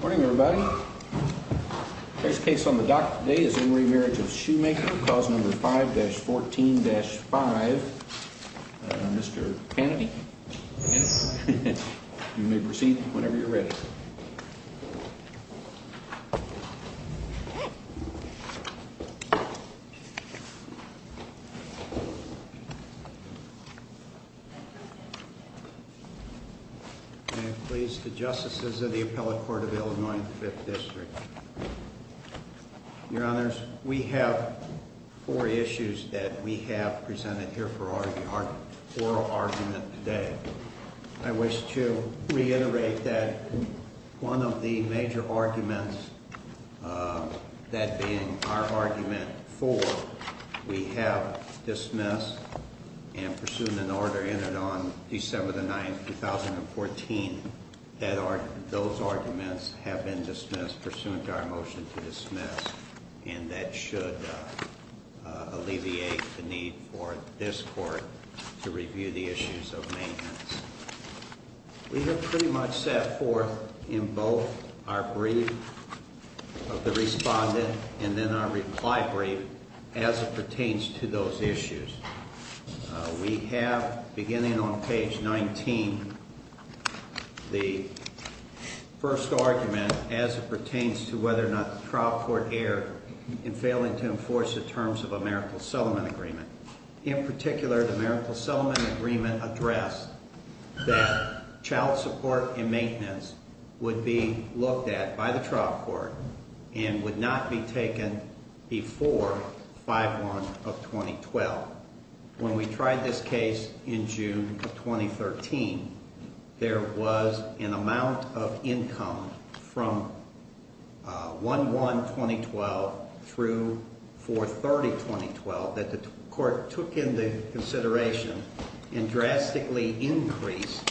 Morning everybody. First case on the dock today is in re Marriage of Schoemaker, clause number 5-14-5. Mr. Kennedy, you may proceed whenever you're ready. May it please the Justices of the Appellate Court of Illinois and the Fifth District. Your Honors, we have four issues that we have presented here for oral argument today. I wish to reiterate that one of the major arguments, that being our argument 4, we have dismissed and pursuant an order entered on December 9, 2014, that those arguments have been dismissed pursuant to our motion to dismiss. And that should alleviate the need for this Court to review the issues of maintenance. We have pretty much set forth in both our brief of the respondent and then our reply brief as it pertains to those issues. We have, beginning on page 19, the first argument as it pertains to whether or not the trial court erred in failing to enforce the terms of Americal-Sullivan agreement. In particular, the Americal-Sullivan agreement addressed that child When we tried this case in June 2013, there was an amount of income from 1-1-2012 through 4-30-2012 that the Court took into consideration and drastically increased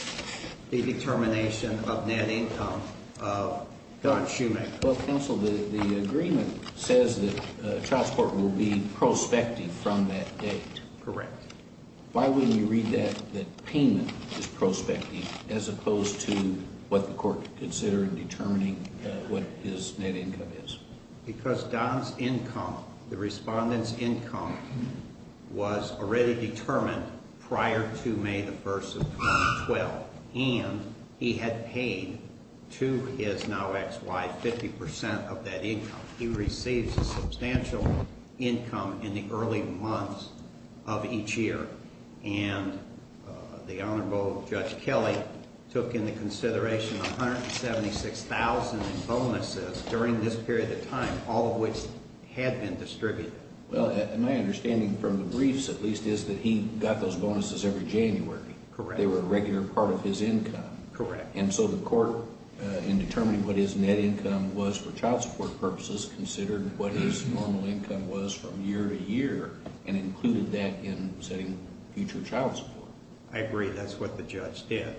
the determination of net income of Don Schoemaker. Well, counsel, the agreement says that the trial court will be prospecting from that date. Correct. Why wouldn't you read that as payment is prospecting as opposed to what the Court considered determining what his net income is? Because Don's income, the respondent's income, was already determined prior to May 1, 2012. And he had paid to his now ex-wife 50% of that income. He received a substantial income in the early months of each year. And the Honorable Judge Kelly took into consideration 176,000 bonuses during this period of time, all of which had been distributed. Well, my understanding from the briefs, at least, is that he got those bonuses every January. Correct. They were a regular part of his income. Correct. And so the Court, in determining what his net income was for child support purposes, considered what his normal income was from year to year and included that in setting future child support. I agree. That's what the Judge did.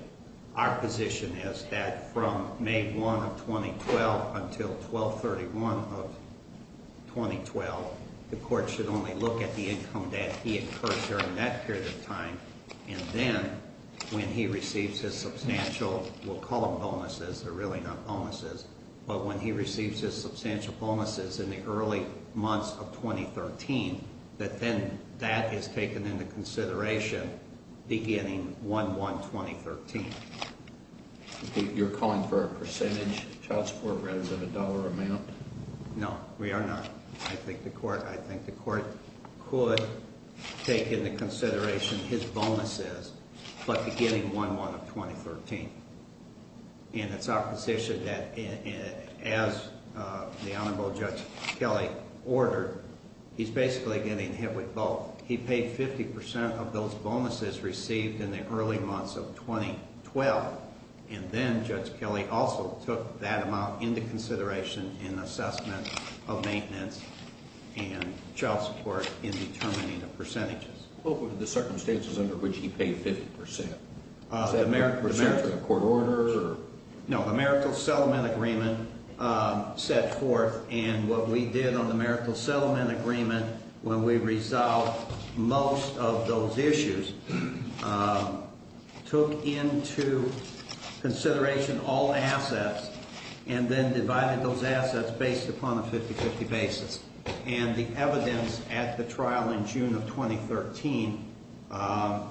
Our position is that from May 1 of 2012 until 12-31 of 2012, the Court should only look at the income that he incurred during that period of time. And then when he receives his substantial, we'll call them bonuses, they're really not bonuses, but when he receives his substantial bonuses in the early months of 2013, that then that is taken into consideration beginning 1-1-2013. You're calling for a percentage of child support rather than a dollar amount? No, we are not. I think the Court could take into consideration his bonuses, but beginning 1-1-2013. And it's our position that as the Honorable Judge Kelly ordered, he's basically getting hit with both. He paid 50% of those bonuses received in the early months of 2012, and then Judge Kelly also took that amount into consideration in the assessment of maintenance and child support in determining the percentages. What were the circumstances under which he paid 50%? Was there a court order? No, the Marital Settlement Agreement set forth, and what we did on the Marital Settlement Agreement when we resolved most of those issues, took into consideration all assets and then divided those assets based upon a 50-50 basis. And the evidence at the trial in June of 2013, I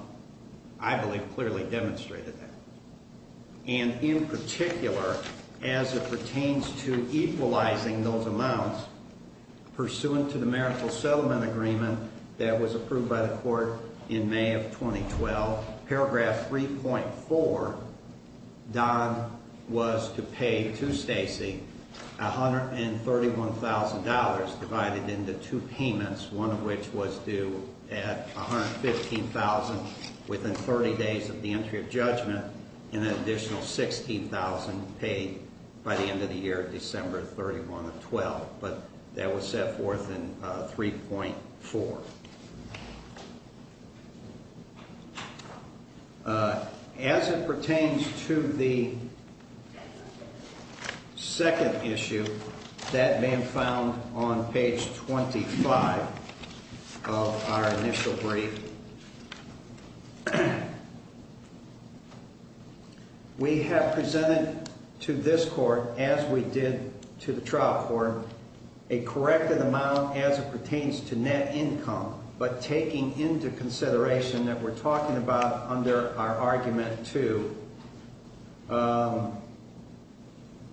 believe, clearly demonstrated that. And in particular, as it pertains to equalizing those amounts, pursuant to the Marital Settlement Agreement that was approved by the Court in May of 2012, paragraph 3.4, Don was to pay to Stacy $131,000 divided into two payments, one of which was due at $115,000 within 30 days of the entry of judgment, and an additional $16,000 paid by the end of the year, December 31 of 2012. But that was set forth in 3.4. As it pertains to the second issue that may have been found on page 25 of our initial brief, we have presented to this Court, as we did to the trial court, a corrected amount as it pertains to net income, but taking into consideration that we're talking about under our argument to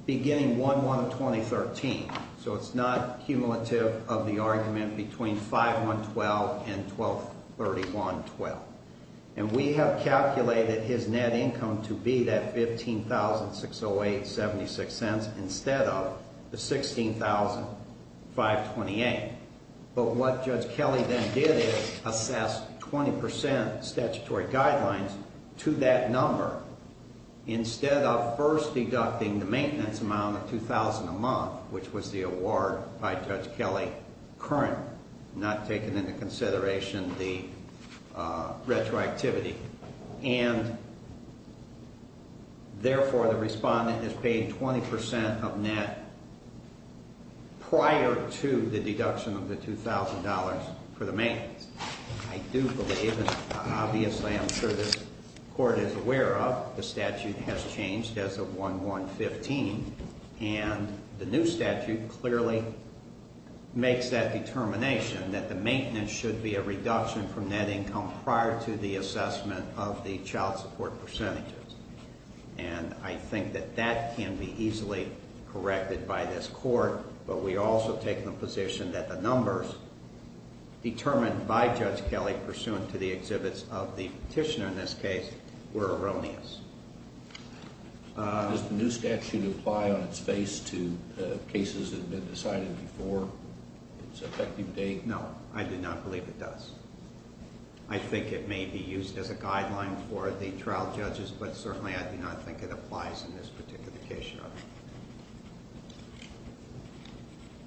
beginning 1-1 of 2013. So it's not cumulative of the argument between 5-1-12 and 12-31-12. And we have calculated his net income to be that $15,608.76 instead of the $16,528. But what Judge Kelly then did is assess 20% statutory guidelines to that number instead of first deducting the maintenance amount of $2,000 a month, which was the award by Judge Kelly, current, not taking into consideration the retroactivity. And, therefore, the respondent is paid 20% of net prior to the deduction of the $2,000 for the maintenance. I do believe, and obviously I'm sure this Court is aware of, the statute has changed as of 1-1-15. And the new statute clearly makes that determination that the maintenance should be a reduction from net income prior to the assessment of the child support percentages. And I think that that can be easily corrected by this Court, but we also take the position that the numbers determined by Judge Kelly pursuant to the exhibits of the petitioner in this case were erroneous. Does the new statute apply on its face to cases that have been decided before its effective date? No, I do not believe it does. I think it may be used as a guideline for the trial judges, but certainly I do not think it applies in this particular case, Your Honor.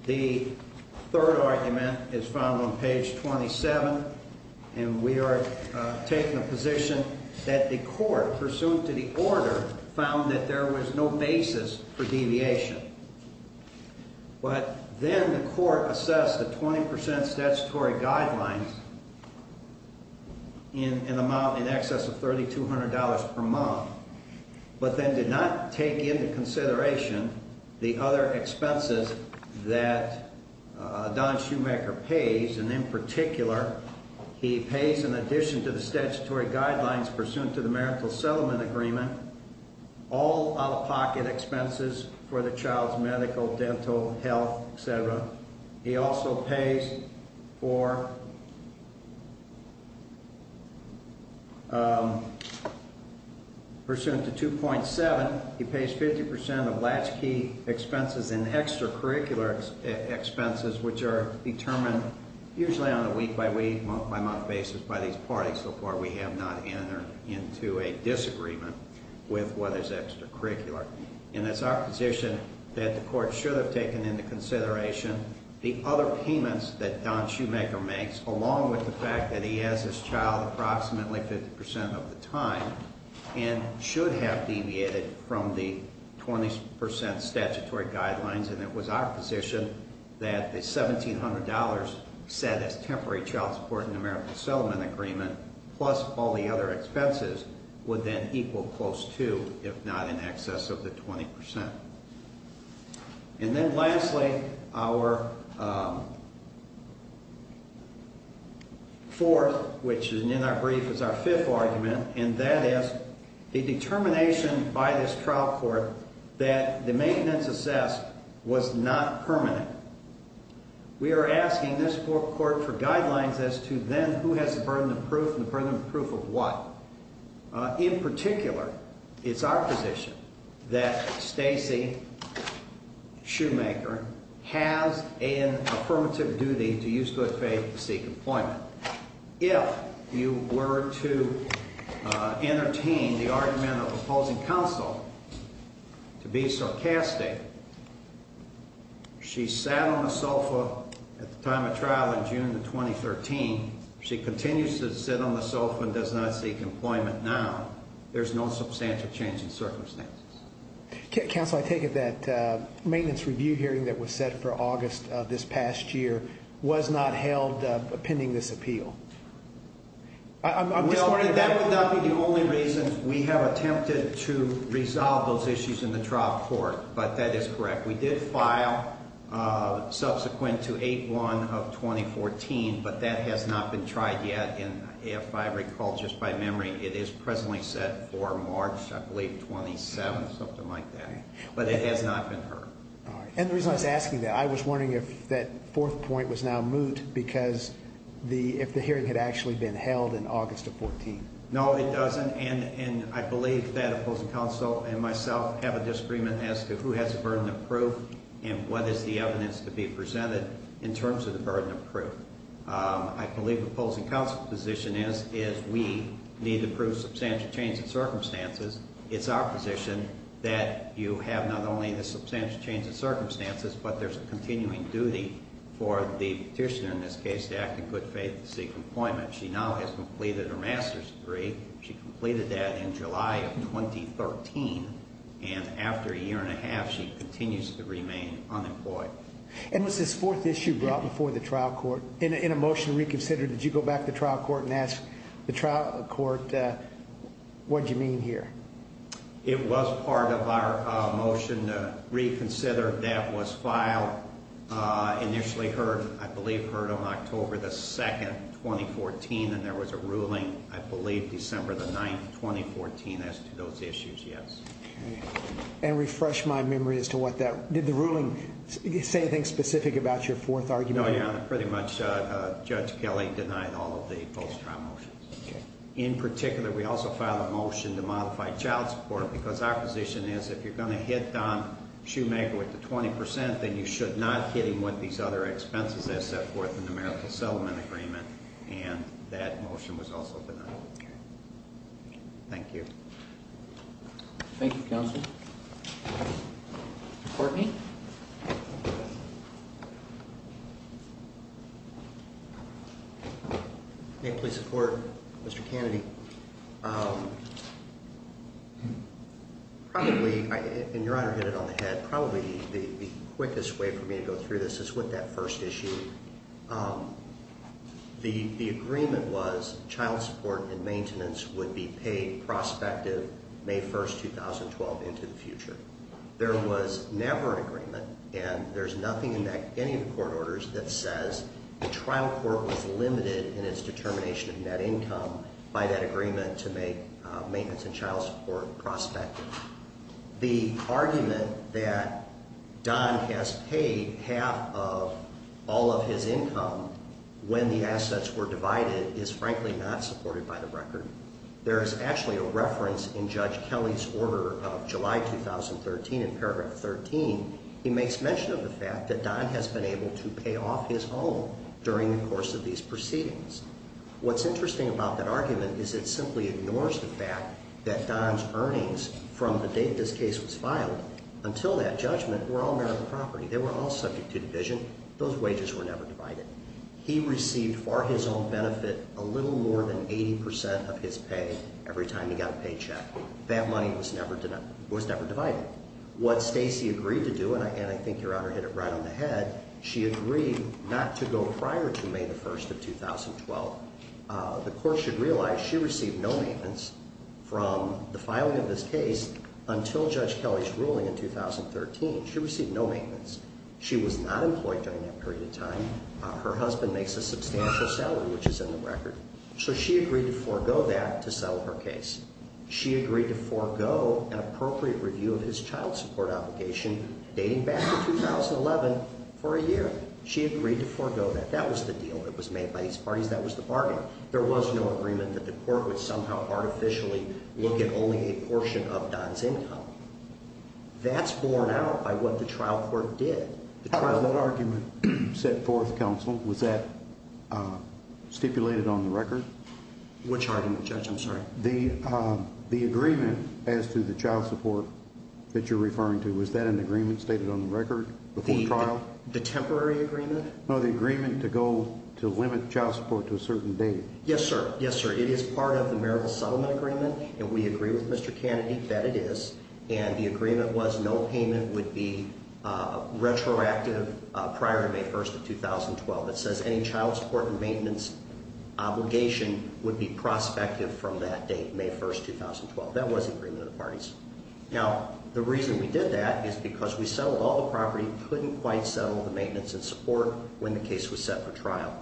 The third argument is found on page 27, and we are taking the position that the Court, pursuant to the order, found that there was no basis for deviation. But then the Court assessed the 20% statutory guidelines in an amount in excess of $3,200 per month, but then did not take into consideration the other expenses that Don Schumacher pays, and in particular, he pays in addition to the statutory guidelines pursuant to the marital settlement agreement, all out-of-pocket expenses for the child's medical, dental, health, et cetera. He also pays for, pursuant to 2.7, he pays 50% of latchkey expenses and extracurricular expenses, which are determined usually on a week-by-week, month-by-month basis by these parties, so far we have not entered into a disagreement with what is extracurricular. And it's our position that the Court should have taken into consideration the other payments that Don Schumacher makes, along with the fact that he has his child approximately 50% of the time, and should have deviated from the 20% statutory guidelines, and it was our position that the $1,700 set as temporary child support and marital settlement agreement, plus all the other expenses, would then equal close to, if not in excess of the 20%. And then lastly, our fourth, which in our brief is our fifth argument, and that is the determination by this trial court that the maintenance assessed was not permanent. We are asking this court for guidelines as to then who has the burden of proof and the burden of proof of what. In particular, it's our position that Stacey Schumacher has an affirmative duty to use good faith to seek employment. If you were to entertain the argument of opposing counsel to be sarcastic, she sat on the sofa at the time of trial in June of 2013. She continues to sit on the sofa and does not seek employment now. There's no substantial change in circumstances. Counsel, I take it that maintenance review hearing that was set for August of this past year was not held pending this appeal. Well, that would not be the only reason. We have attempted to resolve those issues in the trial court, but that is correct. We did file subsequent to 8-1 of 2014, but that has not been tried yet. And if I recall just by memory, it is presently set for March, I believe, 27th, something like that. But it has not been heard. And the reason I was asking that, I was wondering if that fourth point was now moot because if the hearing had actually been held in August of 14th. No, it doesn't. And I believe that opposing counsel and myself have a disagreement as to who has the burden of proof and what is the evidence to be presented in terms of the burden of proof. I believe opposing counsel's position is we need to prove substantial change in circumstances. It's our position that you have not only the substantial change in circumstances, but there's a continuing duty for the petitioner in this case to act in good faith to seek employment. She now has completed her master's degree. She completed that in July of 2013. And after a year and a half, she continues to remain unemployed. And was this fourth issue brought before the trial court? In a motion to reconsider, did you go back to the trial court and ask the trial court what you mean here? It was part of our motion to reconsider that was filed. Initially heard, I believe, heard on October the 2nd, 2014, and there was a ruling, I believe, December the 9th, 2014, as to those issues, yes. And refresh my memory as to what that, did the ruling say anything specific about your fourth argument? No, Your Honor, pretty much Judge Kelly denied all of the post-trial motions. In particular, we also filed a motion to modify child support because our position is if you're going to hit Don Shoemaker with the 20%, then you should not hit him with these other expenses, except for the numerical settlement agreement. And that motion was also denied. Thank you. Thank you, counsel. Mr. Courtney? May it please the Court? Mr. Kennedy, probably, and Your Honor hit it on the head, probably the quickest way for me to go through this is with that first issue. The agreement was child support and maintenance would be paid prospective May 1st, 2012, into the future. There was never an agreement, and there's nothing in any of the court orders that says the trial court was limited in its determination of net income by that agreement to make maintenance and child support prospective. The argument that Don has paid half of all of his income when the assets were divided is frankly not supported by the record. There is actually a reference in Judge Kelly's order of July 2013 in paragraph 13. He makes mention of the fact that Don has been able to pay off his home during the course of these proceedings. What's interesting about that argument is it simply ignores the fact that Don's earnings from the date this case was filed until that judgment were all merited property. They were all subject to division. Those wages were never divided. He received for his own benefit a little more than 80% of his pay every time he got a paycheck. That money was never divided. What Stacy agreed to do, and I think Your Honor hit it right on the head, she agreed not to go prior to May 1st of 2012. The court should realize she received no maintenance from the filing of this case until Judge Kelly's ruling in 2013. She received no maintenance. She was not employed during that period of time. Her husband makes a substantial salary, which is in the record. So she agreed to forego that to settle her case. She agreed to forego an appropriate review of his child support obligation dating back to 2011 for a year. She agreed to forego that. That was the deal that was made by these parties. That was the bargain. There was no agreement that the court would somehow artificially look at only a portion of Don's income. That's borne out by what the trial court did. How was that argument set forth, counsel? Was that stipulated on the record? Which argument, Judge? I'm sorry. The agreement as to the child support that you're referring to, was that an agreement stated on the record before the trial? The temporary agreement? No, the agreement to go to limit child support to a certain date. Yes, sir. Yes, sir. It is part of the marital settlement agreement, and we agree with Mr. Kennedy that it is, and the agreement was no payment would be retroactive prior to May 1st of 2012. It says any child support and maintenance obligation would be prospective from that date, May 1st, 2012. That was the agreement of the parties. Now, the reason we did that is because we settled all the property, couldn't quite settle the maintenance and support when the case was set for trial.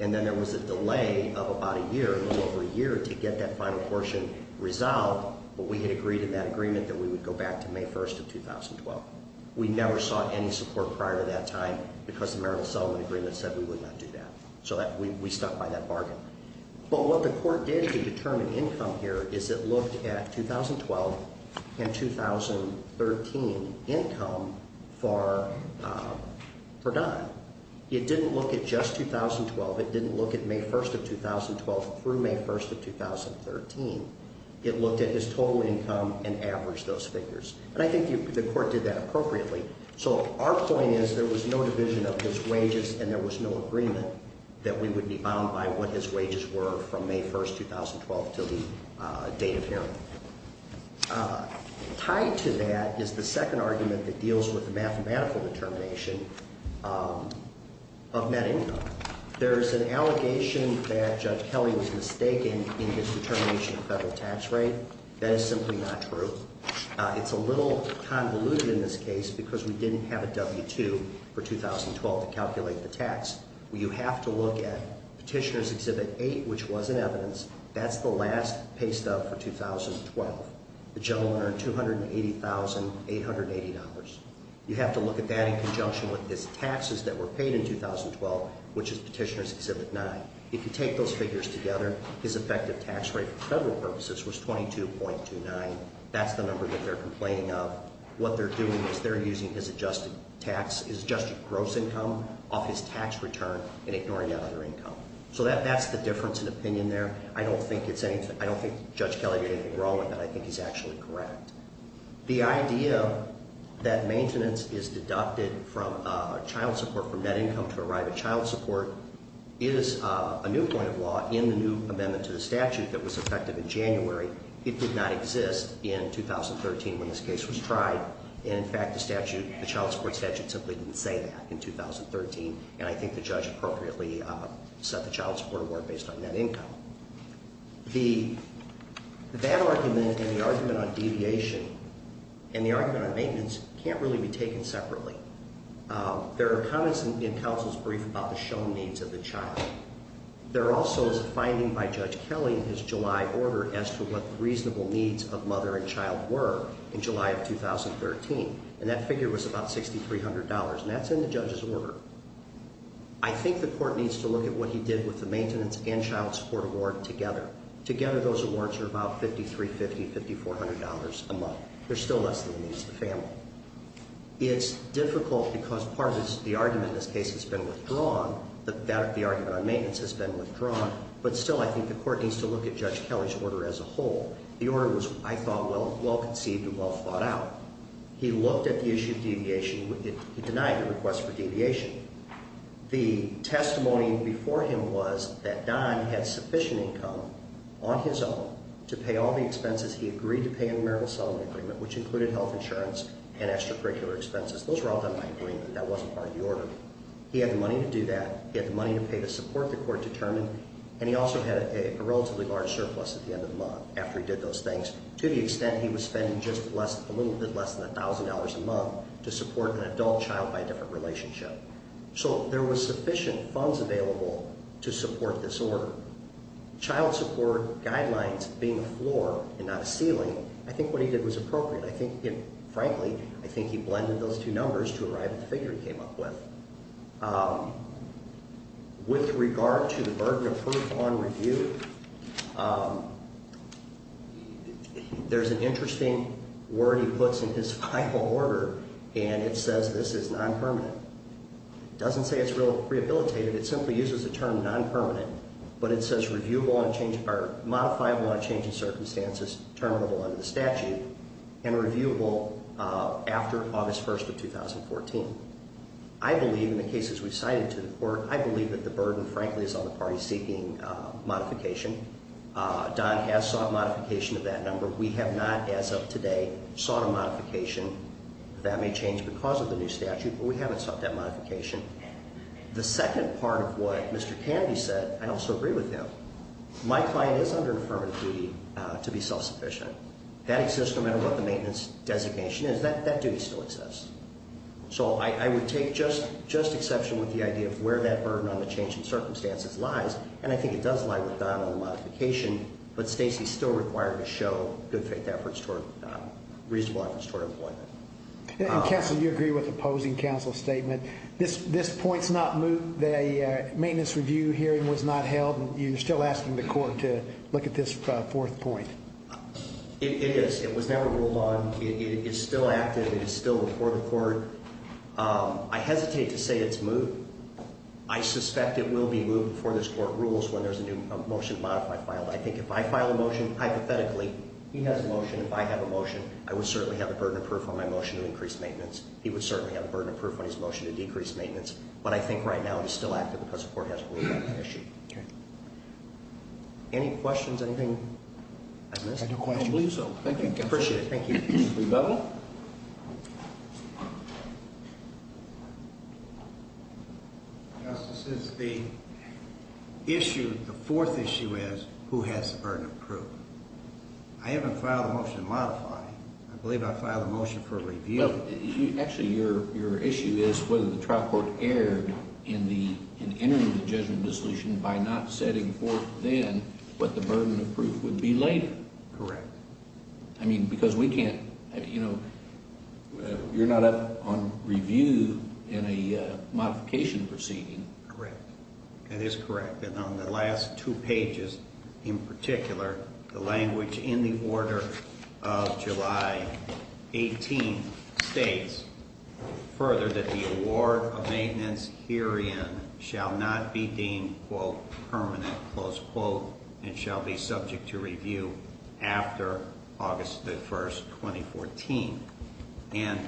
And then there was a delay of about a year, a little over a year, to get that final portion resolved, but we had agreed in that agreement that we would go back to May 1st of 2012. We never sought any support prior to that time because the marital settlement agreement said we would not do that. So we stuck by that bargain. But what the court did to determine income here is it looked at 2012 and 2013 income for Don. It didn't look at just 2012. It didn't look at May 1st of 2012 through May 1st of 2013. It looked at his total income and averaged those figures. And I think the court did that appropriately. So our point is there was no division of his wages and there was no agreement that we would be bound by what his wages were from May 1st, 2012, to the date of hearing. Tied to that is the second argument that deals with the mathematical determination of net income. There's an allegation that Judge Kelly was mistaken in his determination of federal tax rate. That is simply not true. It's a little convoluted in this case because we didn't have a W-2 for 2012 to calculate the tax. You have to look at Petitioner's Exhibit 8, which was in evidence. That's the last pay stub for 2012. The gentleman earned $280,880. You have to look at that in conjunction with his taxes that were paid in 2012, which is Petitioner's Exhibit 9. If you take those figures together, his effective tax rate for federal purposes was $22.29. That's the number that they're complaining of. What they're doing is they're using his adjusted gross income off his tax return and ignoring that other income. So that's the difference in opinion there. I don't think Judge Kelly did anything wrong in that. I think he's actually correct. The idea that maintenance is deducted from child support from net income to arrive at child support is a new point of law in the new amendment to the statute that was effective in January. It did not exist in 2013 when this case was tried. In fact, the child support statute simply didn't say that in 2013, and I think the judge appropriately set the child support award based on net income. That argument and the argument on deviation and the argument on maintenance can't really be taken separately. There are comments in counsel's brief about the shown needs of the child. There also is a finding by Judge Kelly in his July order as to what the reasonable needs of mother and child were in July of 2013, and that figure was about $6,300, and that's in the judge's order. I think the court needs to look at what he did with the maintenance and child support award together. Together those awards are about $5,350, $5,400 a month. There's still less than the needs of the family. It's difficult because part of the argument in this case has been withdrawn, the argument on maintenance has been withdrawn, but still I think the court needs to look at Judge Kelly's order as a whole. The order was, I thought, well conceived and well thought out. He looked at the issue of deviation. He denied the request for deviation. The testimony before him was that Don had sufficient income on his own to pay all the expenses he agreed to pay in the marital settlement agreement, which included health insurance and extracurricular expenses. Those were all done by agreement. That wasn't part of the order. He had the money to do that. He had the money to pay the support the court determined, and he also had a relatively large surplus at the end of the month after he did those things to the extent he was spending just a little bit less than $1,000 a month to support an adult child by a different relationship. So there was sufficient funds available to support this order. Child support guidelines being a floor and not a ceiling, I think what he did was appropriate. I think, frankly, I think he blended those two numbers to arrive at the figure he came up with. With regard to the burden of proof on review, there's an interesting word he puts in his final order, and it says this is non-permanent. It doesn't say it's rehabilitated. It simply uses the term non-permanent, but it says reviewable on change or modifiable on change in circumstances, terminable under the statute, and reviewable after August 1st of 2014. I believe in the cases we've cited to the court, I believe that the burden, frankly, is on the party seeking modification. Don has sought modification of that number. We have not, as of today, sought a modification. That may change because of the new statute, but we haven't sought that modification. The second part of what Mr. Kennedy said, I also agree with him. My client is under affirmative duty to be self-sufficient. That exists no matter what the maintenance designation is. That duty still exists. So I would take just exception with the idea of where that burden on the change in circumstances lies, and I think it does lie with Don on the modification, but Stacy is still required to show good faith efforts toward reasonable efforts toward employment. And, Counsel, you agree with opposing counsel's statement. This point's not moved. The maintenance review hearing was not held, and you're still asking the court to look at this fourth point. It is. It was never ruled on. It is still active. It is still before the court. I hesitate to say it's moved. I suspect it will be moved before this court rules when there's a new motion to modify file. I think if I file a motion, hypothetically, he has a motion, if I have a motion, I would certainly have a burden of proof on my motion to increase maintenance. He would certainly have a burden of proof on his motion to decrease maintenance, but I think right now it is still active because the court hasn't ruled on that issue. Okay. Any questions? Anything I missed? I don't believe so. Thank you, Counsel. Appreciate it. Thank you. Rebuttal. Justice, the issue, the fourth issue is who has the burden of proof. I haven't filed a motion to modify. I believe I filed a motion for review. Actually, your issue is whether the trial court erred in entering the judgment of dissolution by not setting forth then what the burden of proof would be later. Correct. I mean, because we can't, you know, you're not up on review in a modification proceeding. Correct. That is correct. And on the last two pages in particular, the language in the order of July 18 states further that the award of maintenance herein shall not be deemed, quote, permanent, close quote, and shall be subject to review after August the 1st, 2014. And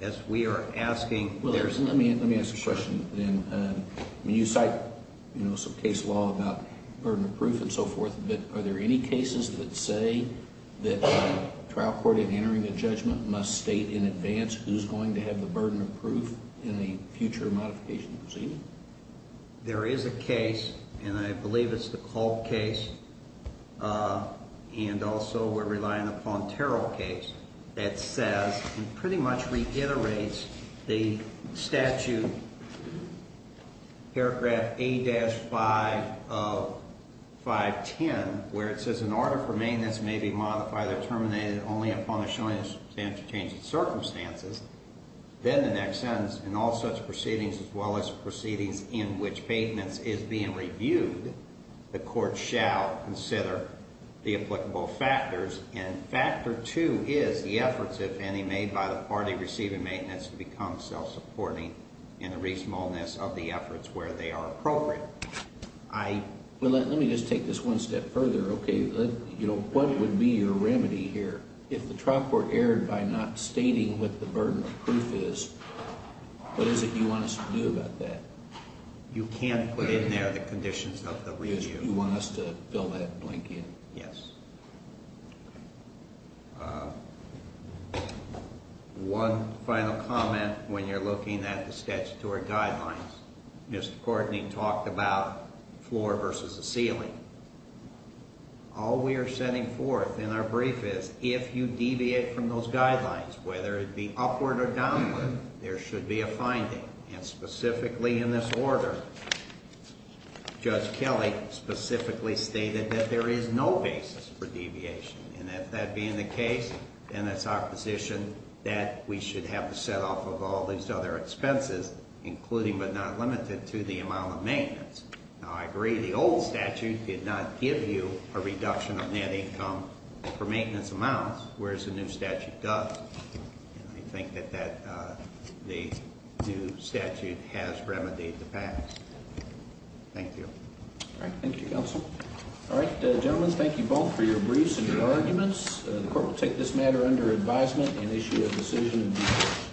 as we are asking, there's no – Let me ask a question then. You cite, you know, some case law about burden of proof and so forth, but are there any cases that say that trial court in entering a judgment must state in advance who's going to have the burden of proof in a future modification proceeding? There is a case, and I believe it's the Culp case, and also we're relying upon Terrell case, that says and pretty much reiterates the statute, paragraph A-5 of 510, where it says in order for maintenance may be modified or terminated only upon the showing of substantial changes in circumstances, then the next sentence, in all such proceedings as well as proceedings in which maintenance is being reviewed, the court shall consider the applicable factors, and factor two is the efforts, if any, made by the party receiving maintenance to become self-supporting in the reasonableness of the efforts where they are appropriate. I – Well, let me just take this one step further, okay? You know, what would be your remedy here? If the trial court erred by not stating what the burden of proof is, what is it you want us to do about that? You can't put in there the conditions of the review. You want us to fill that blank in? Yes. One final comment when you're looking at the statutory guidelines. Mr. Courtney talked about floor versus the ceiling. All we are setting forth in our brief is if you deviate from those guidelines, whether it be upward or downward, there should be a finding. And specifically in this order, Judge Kelly specifically stated that there is no basis for deviation. And if that be in the case, then it's our position that we should have to set off of all these other expenses, including but not limited to the amount of maintenance. Now, I agree the old statute did not give you a reduction on net income for maintenance amounts, whereas the new statute does. And I think that that – the new statute has remedied the past. Thank you. All right. Thank you, Counsel. All right, gentlemen, thank you both for your briefs and your arguments. The court will take this matter under advisement and issue a decision in due course.